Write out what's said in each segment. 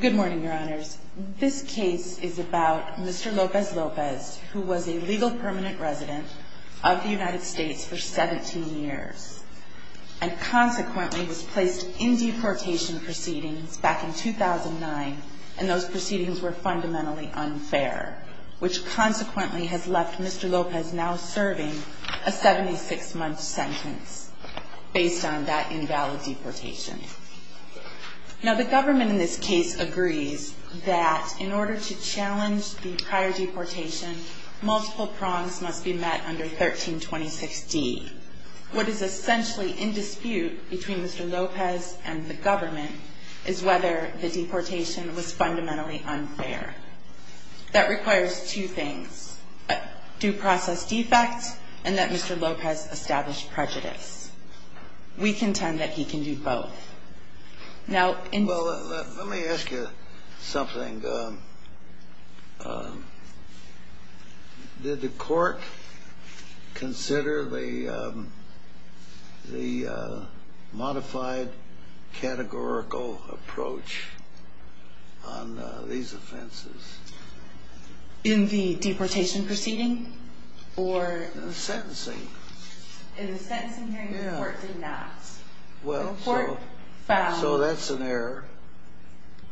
Good morning, Your Honors. This case is about Mr. Lopez-Lopez, who was a legal permanent resident of the United States for 17 years, and consequently was placed in deportation proceedings back in 2009, and those proceedings were fundamentally unfair, which consequently has left Mr. Lopez now serving a 76-month sentence based on that invalid deportation. Now, the government in this case agrees that in order to challenge the prior deportation, multiple prongs must be met under 1326D. What is essentially in dispute between Mr. Lopez and the government is whether the deportation was fundamentally unfair. That requires two things, due process defect, and that Mr. Lopez established prejudice. We contend that he can do both. Now, in this case, the government has agreed that Mr. Lopez is fundamentally unfair. In the deportation proceeding? In the sentencing. In the sentencing hearing, the court did not. Well, so that's an error.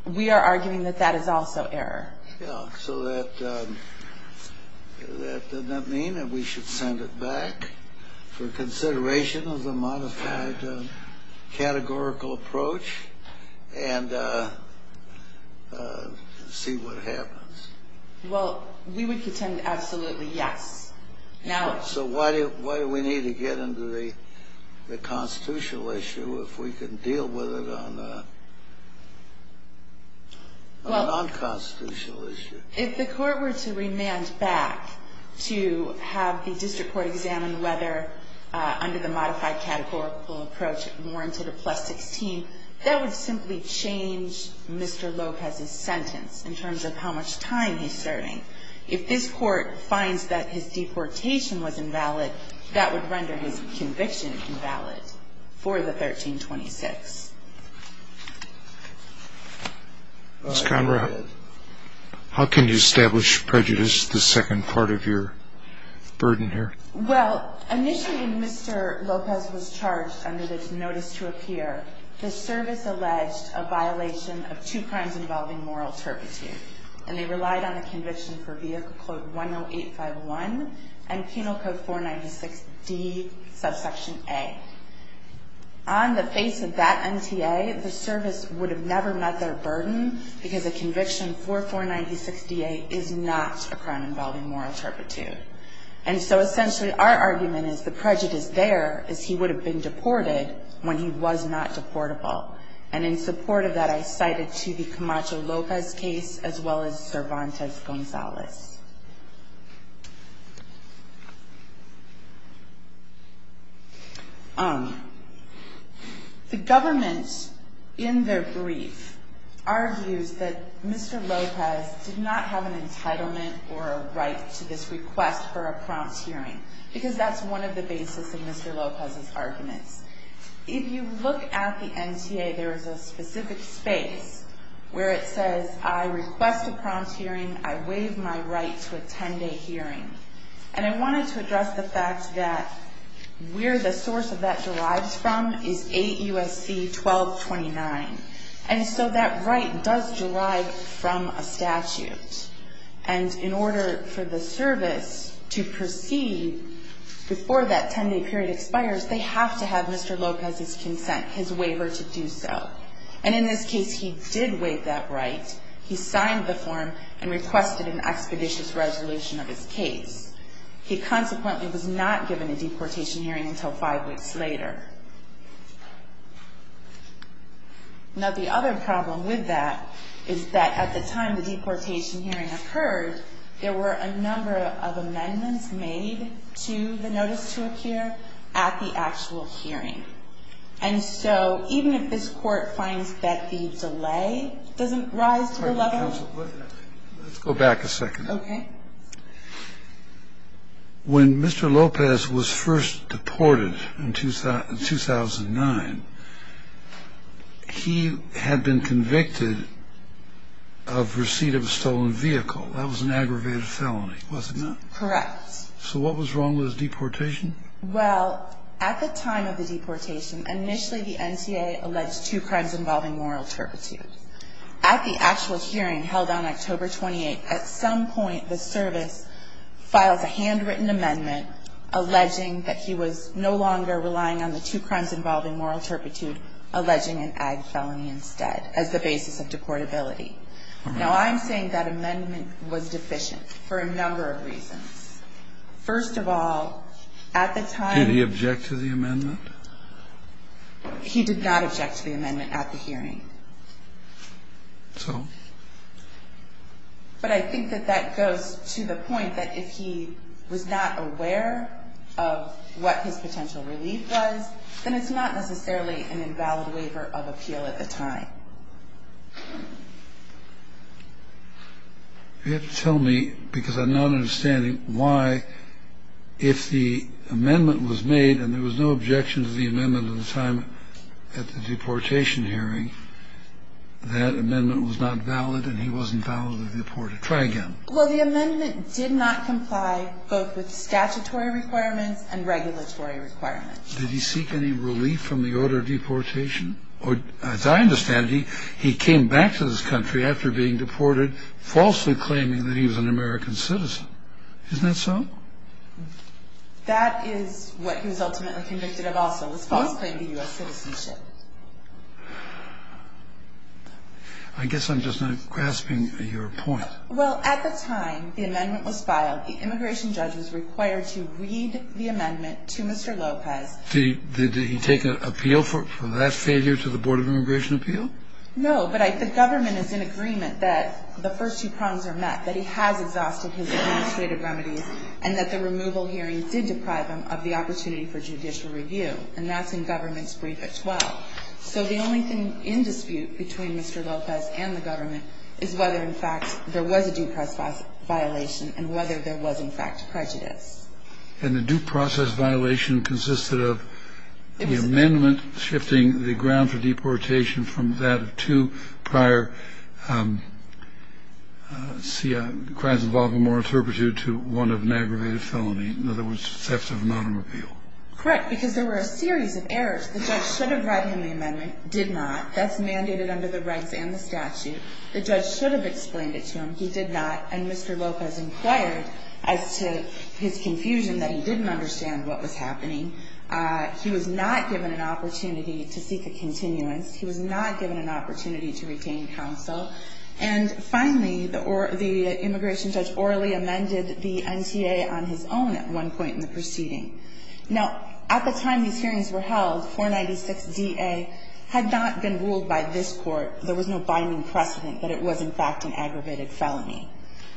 We are arguing that that is also error. Yeah, so that doesn't mean that we should send it back for consideration of the modified categorical approach and see what happens. Well, we would contend absolutely yes. So why do we need to get into the constitutional issue if we can deal with it on a nonconstitutional issue? If the court were to remand back to have the district court examine whether under the modified categorical approach it warranted a plus 16, that would simply change Mr. Lopez's sentence in terms of how much time he's serving. If this court finds that his deportation was invalid, that would render his conviction invalid for the 1326. Ms. Conrad, how can you establish prejudice, the second part of your burden here? Well, initially when Mr. Lopez was charged under this notice to appear, the service alleged a violation of two crimes involving moral turpitude. And they relied on a conviction for vehicle code 10851 and penal code 496D, subsection A. On the face of that NTA, the service would have never met their burden because a conviction for 496DA is not a crime involving moral turpitude. And so essentially our argument is the prejudice there is he would have been deported when he was not deportable. And in support of that, I cited to the Camacho-Lopez case as well as Cervantes-Gonzalez. The government, in their brief, argues that Mr. Lopez did not have an entitlement or a right to this request for a prompt hearing. Because that's one of the basis of Mr. Lopez's arguments. If you look at the NTA, there is a specific space where it says, I request a prompt hearing. I waive my right to a 10-day hearing. And I wanted to address the fact that where the source of that derives from is AUSC 1229. And so that right does derive from a statute. And in order for the service to proceed before that 10-day period expires, they have to have Mr. Lopez's consent, his waiver to do so. And in this case, he did waive that right. He signed the form and requested an expeditious resolution of his case. He consequently was not given a deportation hearing until five weeks later. Now, the other problem with that is that at the time the deportation hearing occurred, there were a number of amendments made to the notice to appear at the actual hearing. And so even if this Court finds that the delay doesn't rise to the level of the actual hearing. Let's go back a second. Okay. When Mr. Lopez was first deported in 2009, he had been convicted of receipt of a stolen vehicle. That was an aggravated felony, was it not? Correct. So what was wrong with his deportation? Well, at the time of the deportation, initially the NCAA alleged two crimes involving moral turpitude. At the actual hearing held on October 28th, at some point the service files a handwritten amendment alleging that he was no longer relying on the two crimes involving moral turpitude, alleging an ag felony instead as the basis of deportability. All right. Now, I'm saying that amendment was deficient for a number of reasons. First of all, at the time. Did he object to the amendment? He did not object to the amendment at the hearing. So? But I think that that goes to the point that if he was not aware of what his potential relief was, then it's not necessarily an invalid waiver of appeal at the time. You have to tell me, because I'm not understanding why, if the amendment was made and there was no objection to the amendment at the time at the deportation hearing, that amendment was not valid and he wasn't validly deported. Try again. Well, the amendment did not comply both with statutory requirements and regulatory requirements. Did he seek any relief from the order of deportation? As I understand it, he came back to this country after being deported, falsely claiming that he was an American citizen. Isn't that so? That is what he was ultimately convicted of also, this false claim to U.S. citizenship. I guess I'm just not grasping your point. Well, at the time the amendment was filed, the immigration judge was required to read the amendment to Mr. Lopez. Did he take an appeal for that failure to the Board of Immigration Appeal? No, but the government is in agreement that the first two prongs are met, that he has exhausted his administrative remedies, and that the removal hearing did deprive him of the opportunity for judicial review, and that's in government's brief at 12. So the only thing in dispute between Mr. Lopez and the government is whether, in fact, there was a due process violation and whether there was, in fact, prejudice. And the due process violation consisted of the amendment shifting the ground for deportation from that of two prior crimes involving moral turpitude to one of an aggravated felony, in other words, theft of anonymity. Correct, because there were a series of errors. The judge should have read him the amendment, did not. That's mandated under the rights and the statute. The judge should have explained it to him. He did not. And Mr. Lopez inquired as to his confusion that he didn't understand what was happening. He was not given an opportunity to seek a continuance. He was not given an opportunity to retain counsel. And finally, the immigration judge orally amended the NTA on his own at one point in the proceeding. Now, at the time these hearings were held, 496-DA had not been ruled by this court. There was no binding precedent that it was, in fact, an aggravated felony.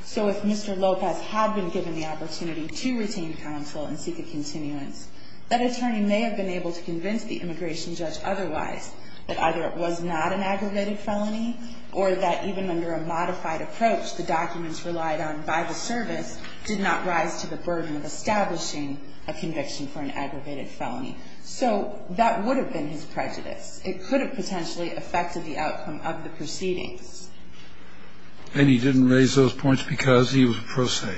So if Mr. Lopez had been given the opportunity to retain counsel and seek a continuance, that attorney may have been able to convince the immigration judge otherwise, that either it was not an aggravated felony or that even under a modified approach the documents relied on by the service did not rise to the burden of establishing a conviction for an aggravated felony. So that would have been his prejudice. It could have potentially affected the outcome of the proceedings. And he didn't raise those points because he was pro se.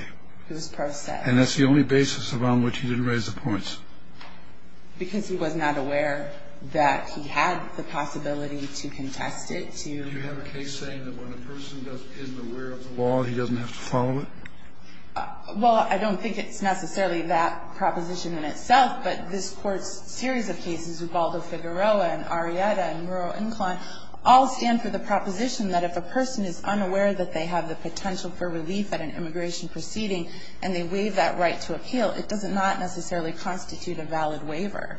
He was pro se. And that's the only basis around which he didn't raise the points. Because he was not aware that he had the possibility to contest it, to ---- Do you have a case saying that when a person doesn't ---- isn't aware of the law, he doesn't have to follow it? Well, I don't think it's necessarily that proposition in itself. But this Court's series of cases, Ubaldo-Figueroa and Arrieta and Rural Incline, all stand for the proposition that if a person is unaware that they have the potential for relief at an immigration proceeding and they waive that right to appeal, it does not necessarily constitute a valid waiver.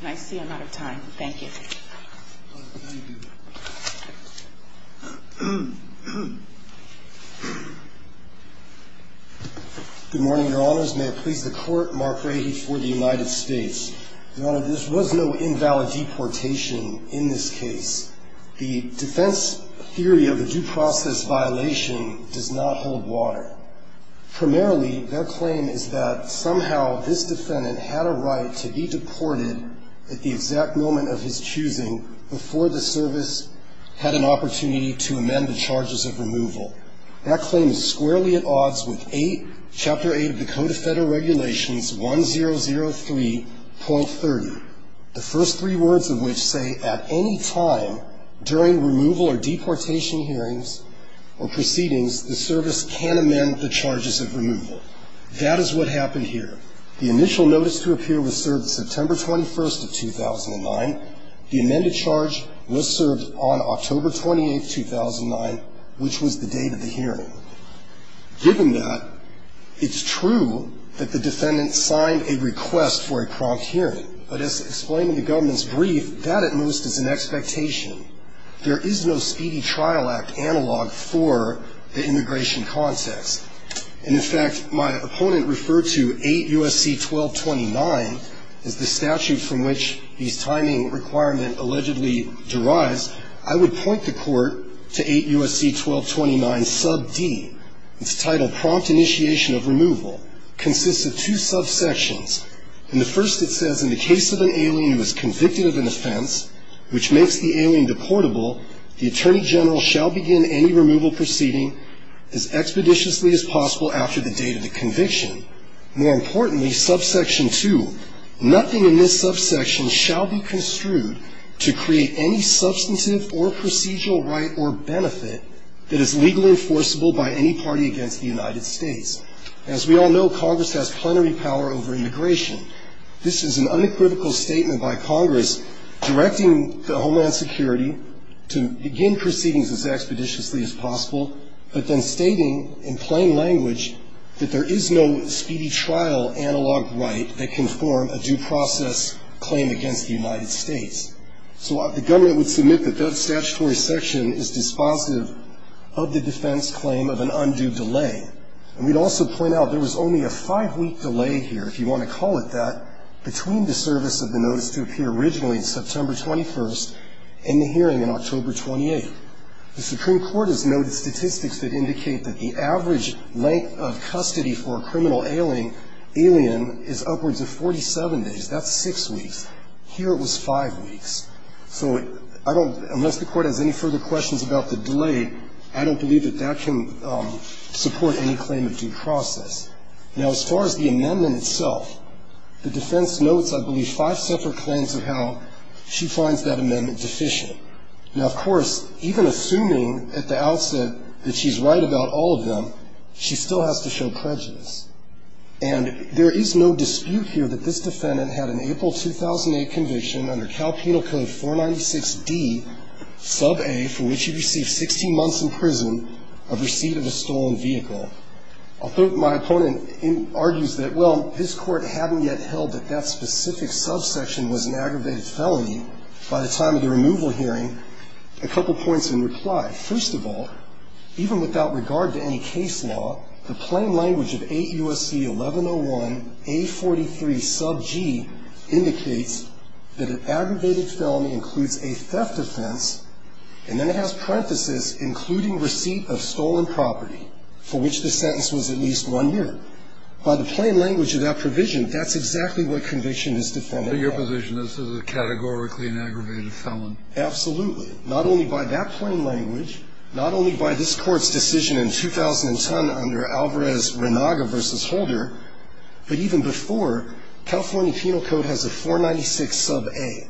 And I see I'm out of time. Thank you. Thank you. Good morning, Your Honors. May it please the Court, Mark Rahe for the United States. Your Honor, there was no invalid deportation in this case. The defense theory of the due process violation does not hold water. Primarily, their claim is that somehow this defendant had a right to be deported at the exact moment of his choosing before the service had an opportunity to amend the charges of removal. That claim is squarely at odds with 8, Chapter 8 of the Code of Federal Regulations 1003.30, the first three words of which say, at any time during removal or deportation hearings or proceedings, the service can amend the charges of removal. That is what happened here. The initial notice to appear was served September 21st of 2009. The amended charge was served on October 28th, 2009, which was the date of the hearing. Given that, it's true that the defendant signed a request for a prompt hearing. But as explained in the government's brief, that at most is an expectation. There is no Speedy Trial Act analog for the immigration context. And in fact, my opponent referred to 8 U.S.C. 1229 as the statute from which these timing requirement allegedly derives. I would point the court to 8 U.S.C. 1229, Sub D. It's titled Prompt Initiation of Removal. Consists of two subsections. In the first, it says, in the case of an alien who is convicted of an offense, which makes the alien deportable, the Attorney General shall begin any removal proceeding as expeditiously as possible after the date of the conviction. More importantly, subsection 2, nothing in this subsection shall be construed to create any substantive or procedural right or benefit that is legally enforceable by any party against the United States. As we all know, Congress has plenary power over immigration. This is an unequivocal statement by Congress directing the Homeland Security to begin proceedings as expeditiously as possible, but then stating in plain language that there is no speedy trial analog right that can form a due process claim against the United States. So the government would submit that that statutory section is dispositive of the defense claim of an undue delay. And we'd also point out there was only a five-week delay here, if you want to call it that, between the service of the notice to appear originally on September 21st and the hearing on October 28th. The Supreme Court has noted statistics that indicate that the average length of custody for a criminal alien is upwards of 47 days. That's six weeks. Here it was five weeks. So I don't, unless the Court has any further questions about the delay, I don't believe that that can support any claim of due process. Now, as far as the amendment itself, the defense notes, I believe, five separate claims of how she finds that amendment deficient. Now, of course, even assuming at the outset that she's right about all of them, she still has to show prejudice. And there is no dispute here that this defendant had an April 2008 conviction under Cal Penal Code 496D, Sub A, for which she received 16 months in prison of receipt of a stolen vehicle. Although my opponent argues that, well, this Court hadn't yet held that that specific subsection was an aggravated felony by the time of the removal hearing, a couple points in reply. First of all, even without regard to any case law, the plain language of AUSC 1101, A43, Sub G, indicates that an aggravated felony includes a theft offense, and then it has parenthesis, including receipt of stolen property, for which the sentence was at least one year. By the plain language of that provision, that's exactly what conviction this defendant had. This is a categorically an aggravated felony. Absolutely. Not only by that plain language, not only by this Court's decision in 2010 under Alvarez-Renaga v. Holder, but even before, California Penal Code has a 496 Sub A.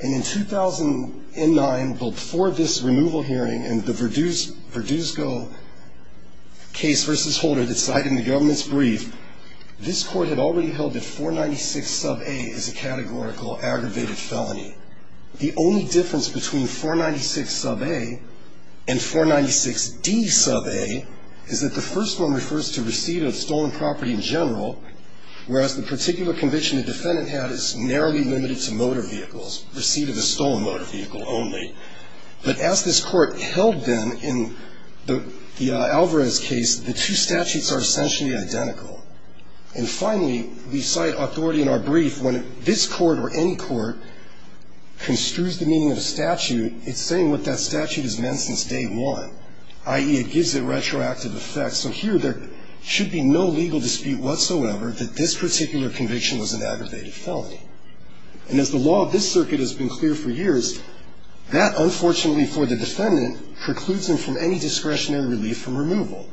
And in 2009, before this removal hearing and the Verduzco case v. Holder that's cited in the government's brief, this Court had already held that 496 Sub A is a categorical aggravated felony. The only difference between 496 Sub A and 496D Sub A is that the first one refers to receipt of stolen property in general, whereas the particular conviction the defendant had is narrowly limited to motor vehicles, receipt of a stolen motor vehicle only. But as this Court held then in the Alvarez case, the two statutes are essentially identical. And finally, we cite authority in our brief when this Court or any court construes the meaning of a statute, it's saying what that statute has meant since day one, i.e., it gives it retroactive effects. So here there should be no legal dispute whatsoever that this particular conviction was an aggravated felony. And as the law of this circuit has been clear for years, that, unfortunately for the defendant, precludes him from any discretionary relief from removal,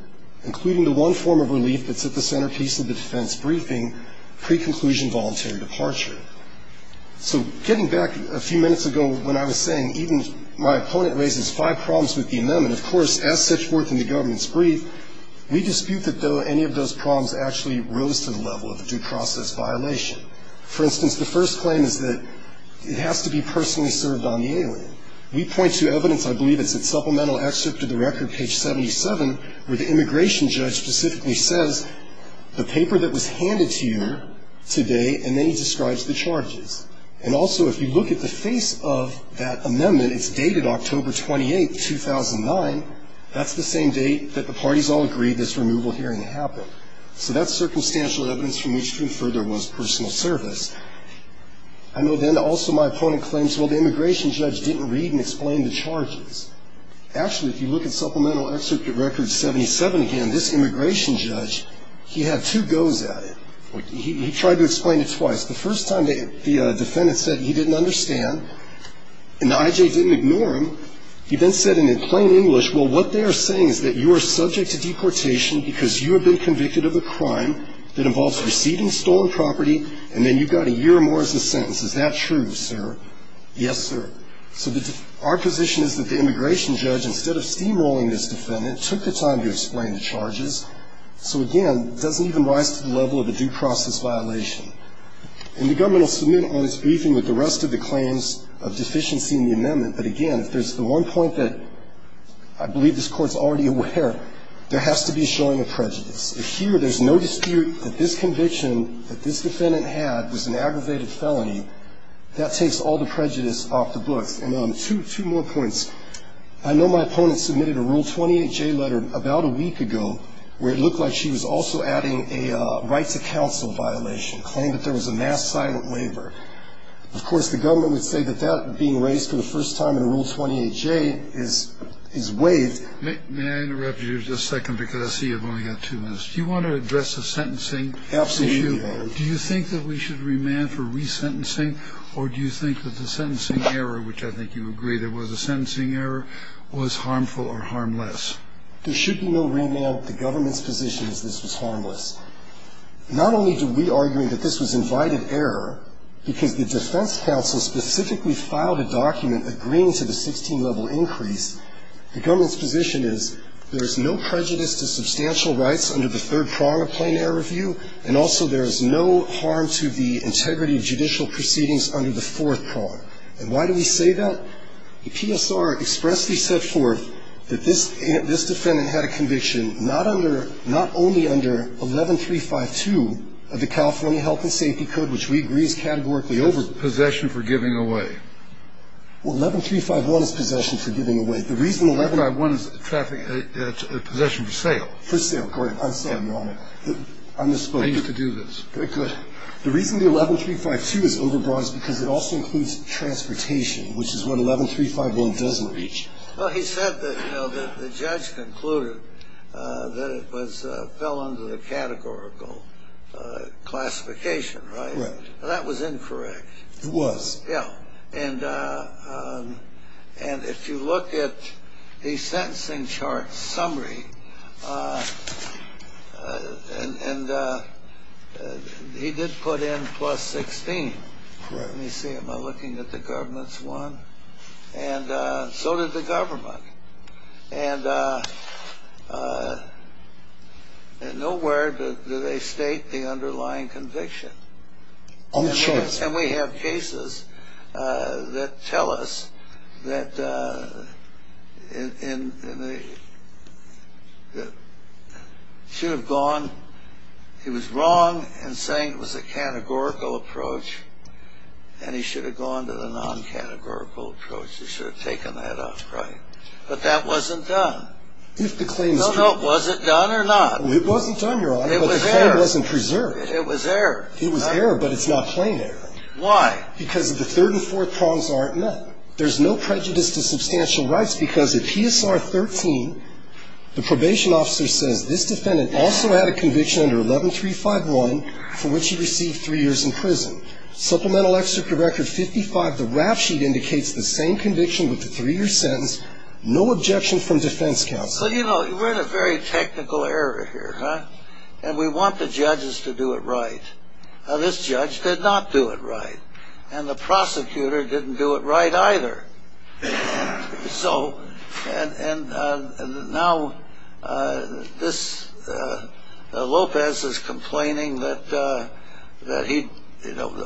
including the one form of relief that's at the centerpiece of the defense briefing, pre-conclusion voluntary departure. So getting back a few minutes ago when I was saying even my opponent raises five problems with the amendment, of course, as set forth in the government's brief, we dispute that any of those problems actually rose to the level of a due process violation. For instance, the first claim is that it has to be personally served on the alien. We point to evidence, I believe it's at supplemental excerpt of the record, page 77, where the immigration judge specifically says the paper that was handed to you today and then he describes the charges. And also, if you look at the face of that amendment, it's dated October 28, 2009. That's the same date that the parties all agreed this removal hearing happened. So that's circumstantial evidence from which to infer there was personal service. I know then also my opponent claims, well, the immigration judge didn't read and explain the charges. Actually, if you look at supplemental excerpt of record 77 again, this immigration judge, he had two goes at it. He tried to explain it twice. The first time the defendant said he didn't understand, and the I.J. didn't ignore him. He then said it in plain English, well, what they are saying is that you are subject to deportation because you have been convicted of a crime that involves receiving stolen property, and then you got a year or more as a sentence. Is that true, sir? Yes, sir. So our position is that the immigration judge, instead of steamrolling this defendant, took the time to explain the charges. So again, it doesn't even rise to the level of a due process violation. And the government will submit on its briefing with the rest of the claims of deficiency in the amendment. But again, if there's the one point that I believe this Court's already aware, there has to be a showing of prejudice. If here there's no dispute that this conviction that this defendant had was an aggravated felony, that takes all the prejudice off the books. And two more points. I know my opponent submitted a Rule 28J letter about a week ago, where it looked like she was also adding a rights of counsel violation, claimed that there was a mass silent waiver. Of course, the government would say that that being raised for the first time in Rule 28J is waived. May I interrupt you just a second, because I see you've only got two minutes. Do you want to address the sentencing issue? Absolutely, Your Honor. Do you think that we should remand for resentencing, or do you think that the sentencing error, which I think you agree, there was a sentencing error, was harmful or harmless? There should be no remand. The government's position is this was harmless. Not only do we argue that this was invited error because the defense counsel specifically filed a document agreeing to the 16-level increase. The government's position is there is no prejudice to substantial rights under the third prong of plain error review, and also there is no harm to the integrity of judicial proceedings under the fourth prong. And why do we say that? The PSR expressly set forth that this defendant had a conviction not under, not only under 11352 of the California Health and Safety Code, which we agree is categorically over. Possession for giving away. Well, 11351 is possession for giving away. The reason 1151 is possession for sale. For sale. I'm sorry, Your Honor. I'm just supposed to do this. Very good. The reason the 11352 is overbroad is because it also includes transportation, which is what 11351 doesn't reach. Well, he said that, you know, the judge concluded that it fell under the categorical classification, right? Right. That was incorrect. It was. Yeah. And if you look at the sentencing chart summary, and he did put in plus 16. Correct. Let me see. Am I looking at the government's one? And so did the government. And nowhere do they state the underlying conviction. I'm sure. And we have cases that tell us that in the, should have gone, he was wrong in saying it was a categorical approach, and he should have gone to the non-categorical approach. He should have taken that up. Right. But that wasn't done. No, no. Was it done or not? It wasn't done, Your Honor. But the claim wasn't preserved. It was error. It was error, but it's not plain error. Why? Because the third and fourth prongs aren't met. There's no prejudice to substantial rights because at PSR 13, the probation officer says this defendant also had a conviction under 11351, for which he received three years in prison. Supplemental Excerpt to Record 55, the rap sheet indicates the same conviction with the three-year sentence, no objection from defense counsel. So, you know, we're in a very technical area here, huh? And we want the judges to do it right. Now, this judge did not do it right. And the prosecutor didn't do it right either. So, and now Lopez is complaining that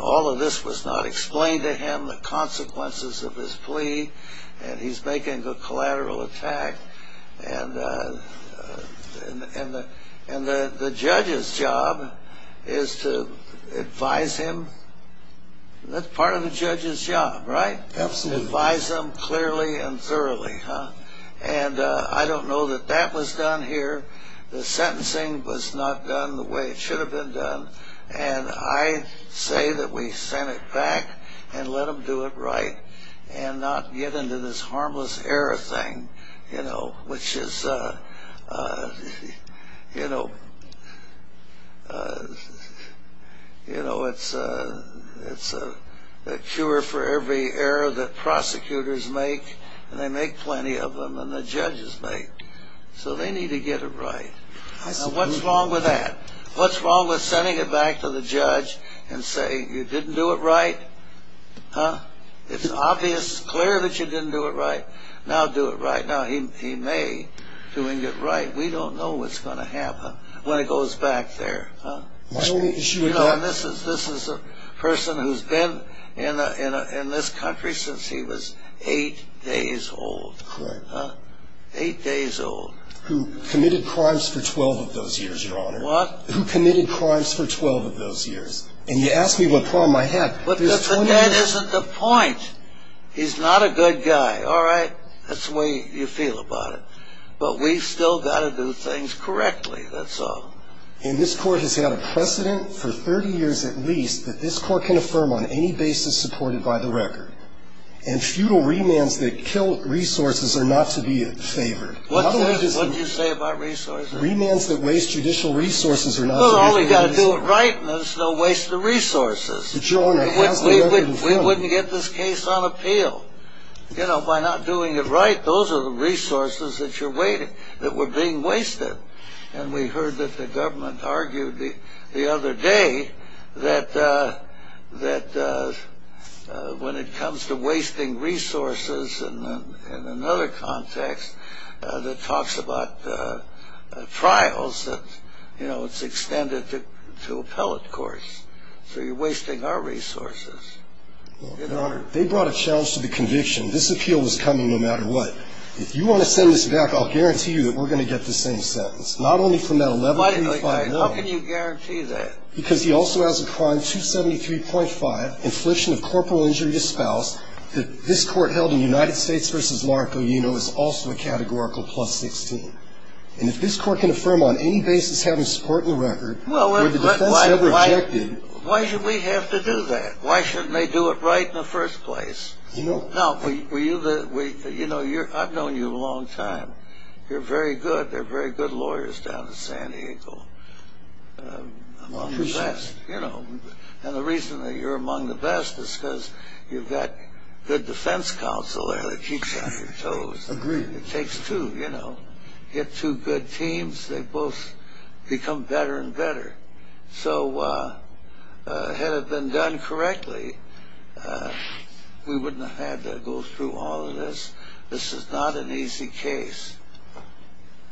all of this was not explained to him, the consequences of his plea, and he's making a collateral attack. And the judge's job is to advise him. That's part of the judge's job, right? Absolutely. Advise him clearly and thoroughly, huh? And I don't know that that was done here. The sentencing was not done the way it should have been done. And I say that we send it back and let them do it right and not get into this harmless error thing, you know, which is, you know, it's a cure for every error that prosecutors make, and they make plenty of them, and the judges make. So they need to get it right. Now, what's wrong with that? What's wrong with sending it back to the judge and saying, you didn't do it right, huh? It's obvious, it's clear that you didn't do it right. Now do it right. When it goes back there, huh? This is a person who's been in this country since he was eight days old. Correct. Eight days old. Who committed crimes for 12 of those years, Your Honor. What? Who committed crimes for 12 of those years. And you ask me what problem I have. But that isn't the point. He's not a good guy, all right? That's the way you feel about it. But we've still got to do things correctly, that's all. And this court has had a precedent for 30 years at least that this court can affirm on any basis supported by the record. And futile remands that kill resources are not to be favored. What did you say about resources? Remands that waste judicial resources are not to be favored. Those only got to do it right, and there's no waste of resources. But, Your Honor, how's the record in front of you? We wouldn't get this case on appeal. You know, by not doing it right, those are the resources that were being wasted. And we heard that the government argued the other day that when it comes to wasting resources in another context that talks about trials, you know, it's extended to appellate courts. So you're wasting our resources. Your Honor, they brought a challenge to the conviction. This appeal was coming no matter what. If you want to send this back, I'll guarantee you that we're going to get the same sentence, not only from that $11.25 million. How can you guarantee that? Because he also has a crime, 273.5, infliction of corporal injury to spouse that this court held in United States v. Mark O'Uno is also a categorical plus 16. And if this court can affirm on any basis having support in the record, where the defense had rejected. Why should we have to do that? Why shouldn't they do it right in the first place? You know, I've known you a long time. You're very good. There are very good lawyers down in San Diego. Among the best, you know. And the reason that you're among the best is because you've got good defense counsel there that keeps you on your toes. Agreed. It takes two, you know. Get two good teams, they both become better and better. So had it been done correctly, we wouldn't have had to go through all of this. This is not an easy case.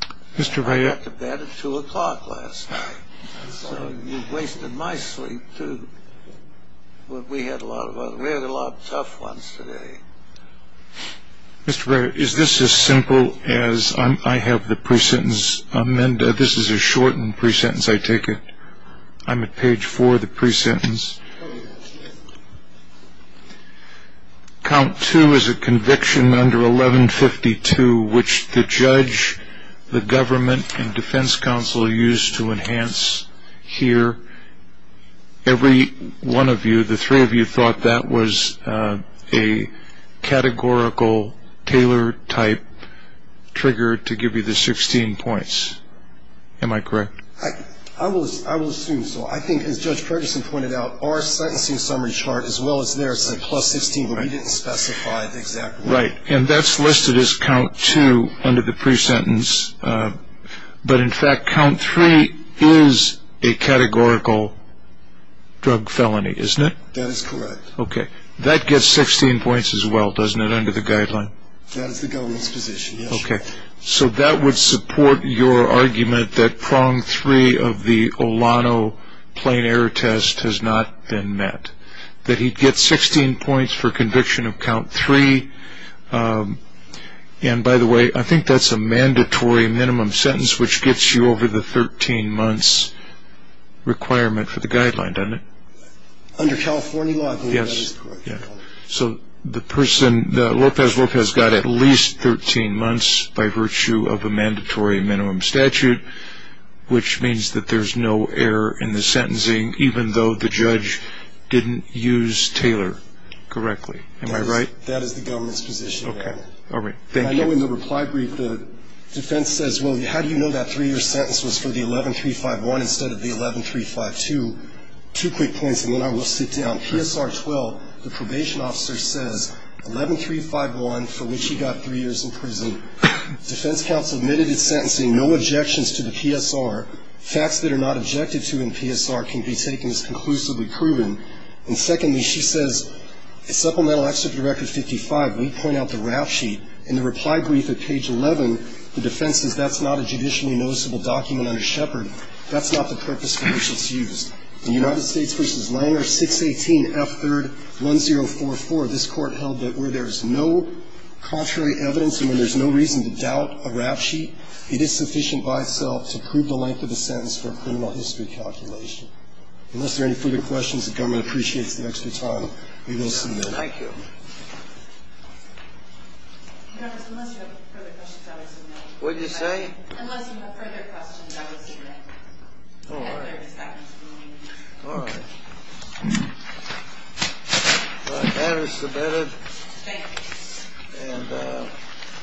I went to bed at 2 o'clock last night. So you've wasted my sleep, too. We had a lot of tough ones today. Mr. Barrett, is this as simple as I have the pre-sentence amended? This is a shortened pre-sentence, I take it. I'm at page four of the pre-sentence. Count two is a conviction under 1152, which the judge, the government, and defense counsel used to enhance here. Every one of you, the three of you, that was a categorical Taylor-type trigger to give you the 16 points. Am I correct? I will assume so. I think, as Judge Ferguson pointed out, our sentencing summary chart, as well as theirs, is a plus 16 where we didn't specify the exact number. Right. And that's listed as count two under the pre-sentence. But, in fact, count three is a categorical drug felony, isn't it? That is correct. Okay. That gets 16 points as well, doesn't it, under the guideline? That is the government's position, yes. Okay. So that would support your argument that prong three of the Olano plain error test has not been met, that he gets 16 points for conviction of count three. And, by the way, I think that's a mandatory minimum sentence, which gets you over the 13 months requirement for the guideline, doesn't it? Under California law, I think that is correct. Yes. So the person, López López, got at least 13 months by virtue of a mandatory minimum statute, which means that there's no error in the sentencing, even though the judge didn't use Taylor correctly. Am I right? That is the government's position. Okay. All right. Thank you. I know in the reply brief the defense says, Well, how do you know that three-year sentence was for the 11351 instead of the 11352? Two quick points, and then I will sit down. PSR 12, the probation officer says, 11351, for which he got three years in prison, defense counsel admitted his sentencing, no objections to the PSR. Facts that are not objected to in PSR can be taken as conclusively proven. And, secondly, she says, supplemental excerpt of record 55, we point out the RAF sheet. In the reply brief at page 11, the defense says, That's not a judicially noticeable document under Shepard. That's not the purpose for which it's used. In United States v. Langer, 618F3rd1044, this Court held that where there is no contrary evidence and where there's no reason to doubt a RAF sheet, it is sufficient by itself to prove the length of the sentence for a criminal history calculation. Unless there are any further questions, the government appreciates the extra time. We will submit. Thank you. Thank you. What did you say? Unless you have further questions, I will submit. All right. All right. That is submitted. Thanks.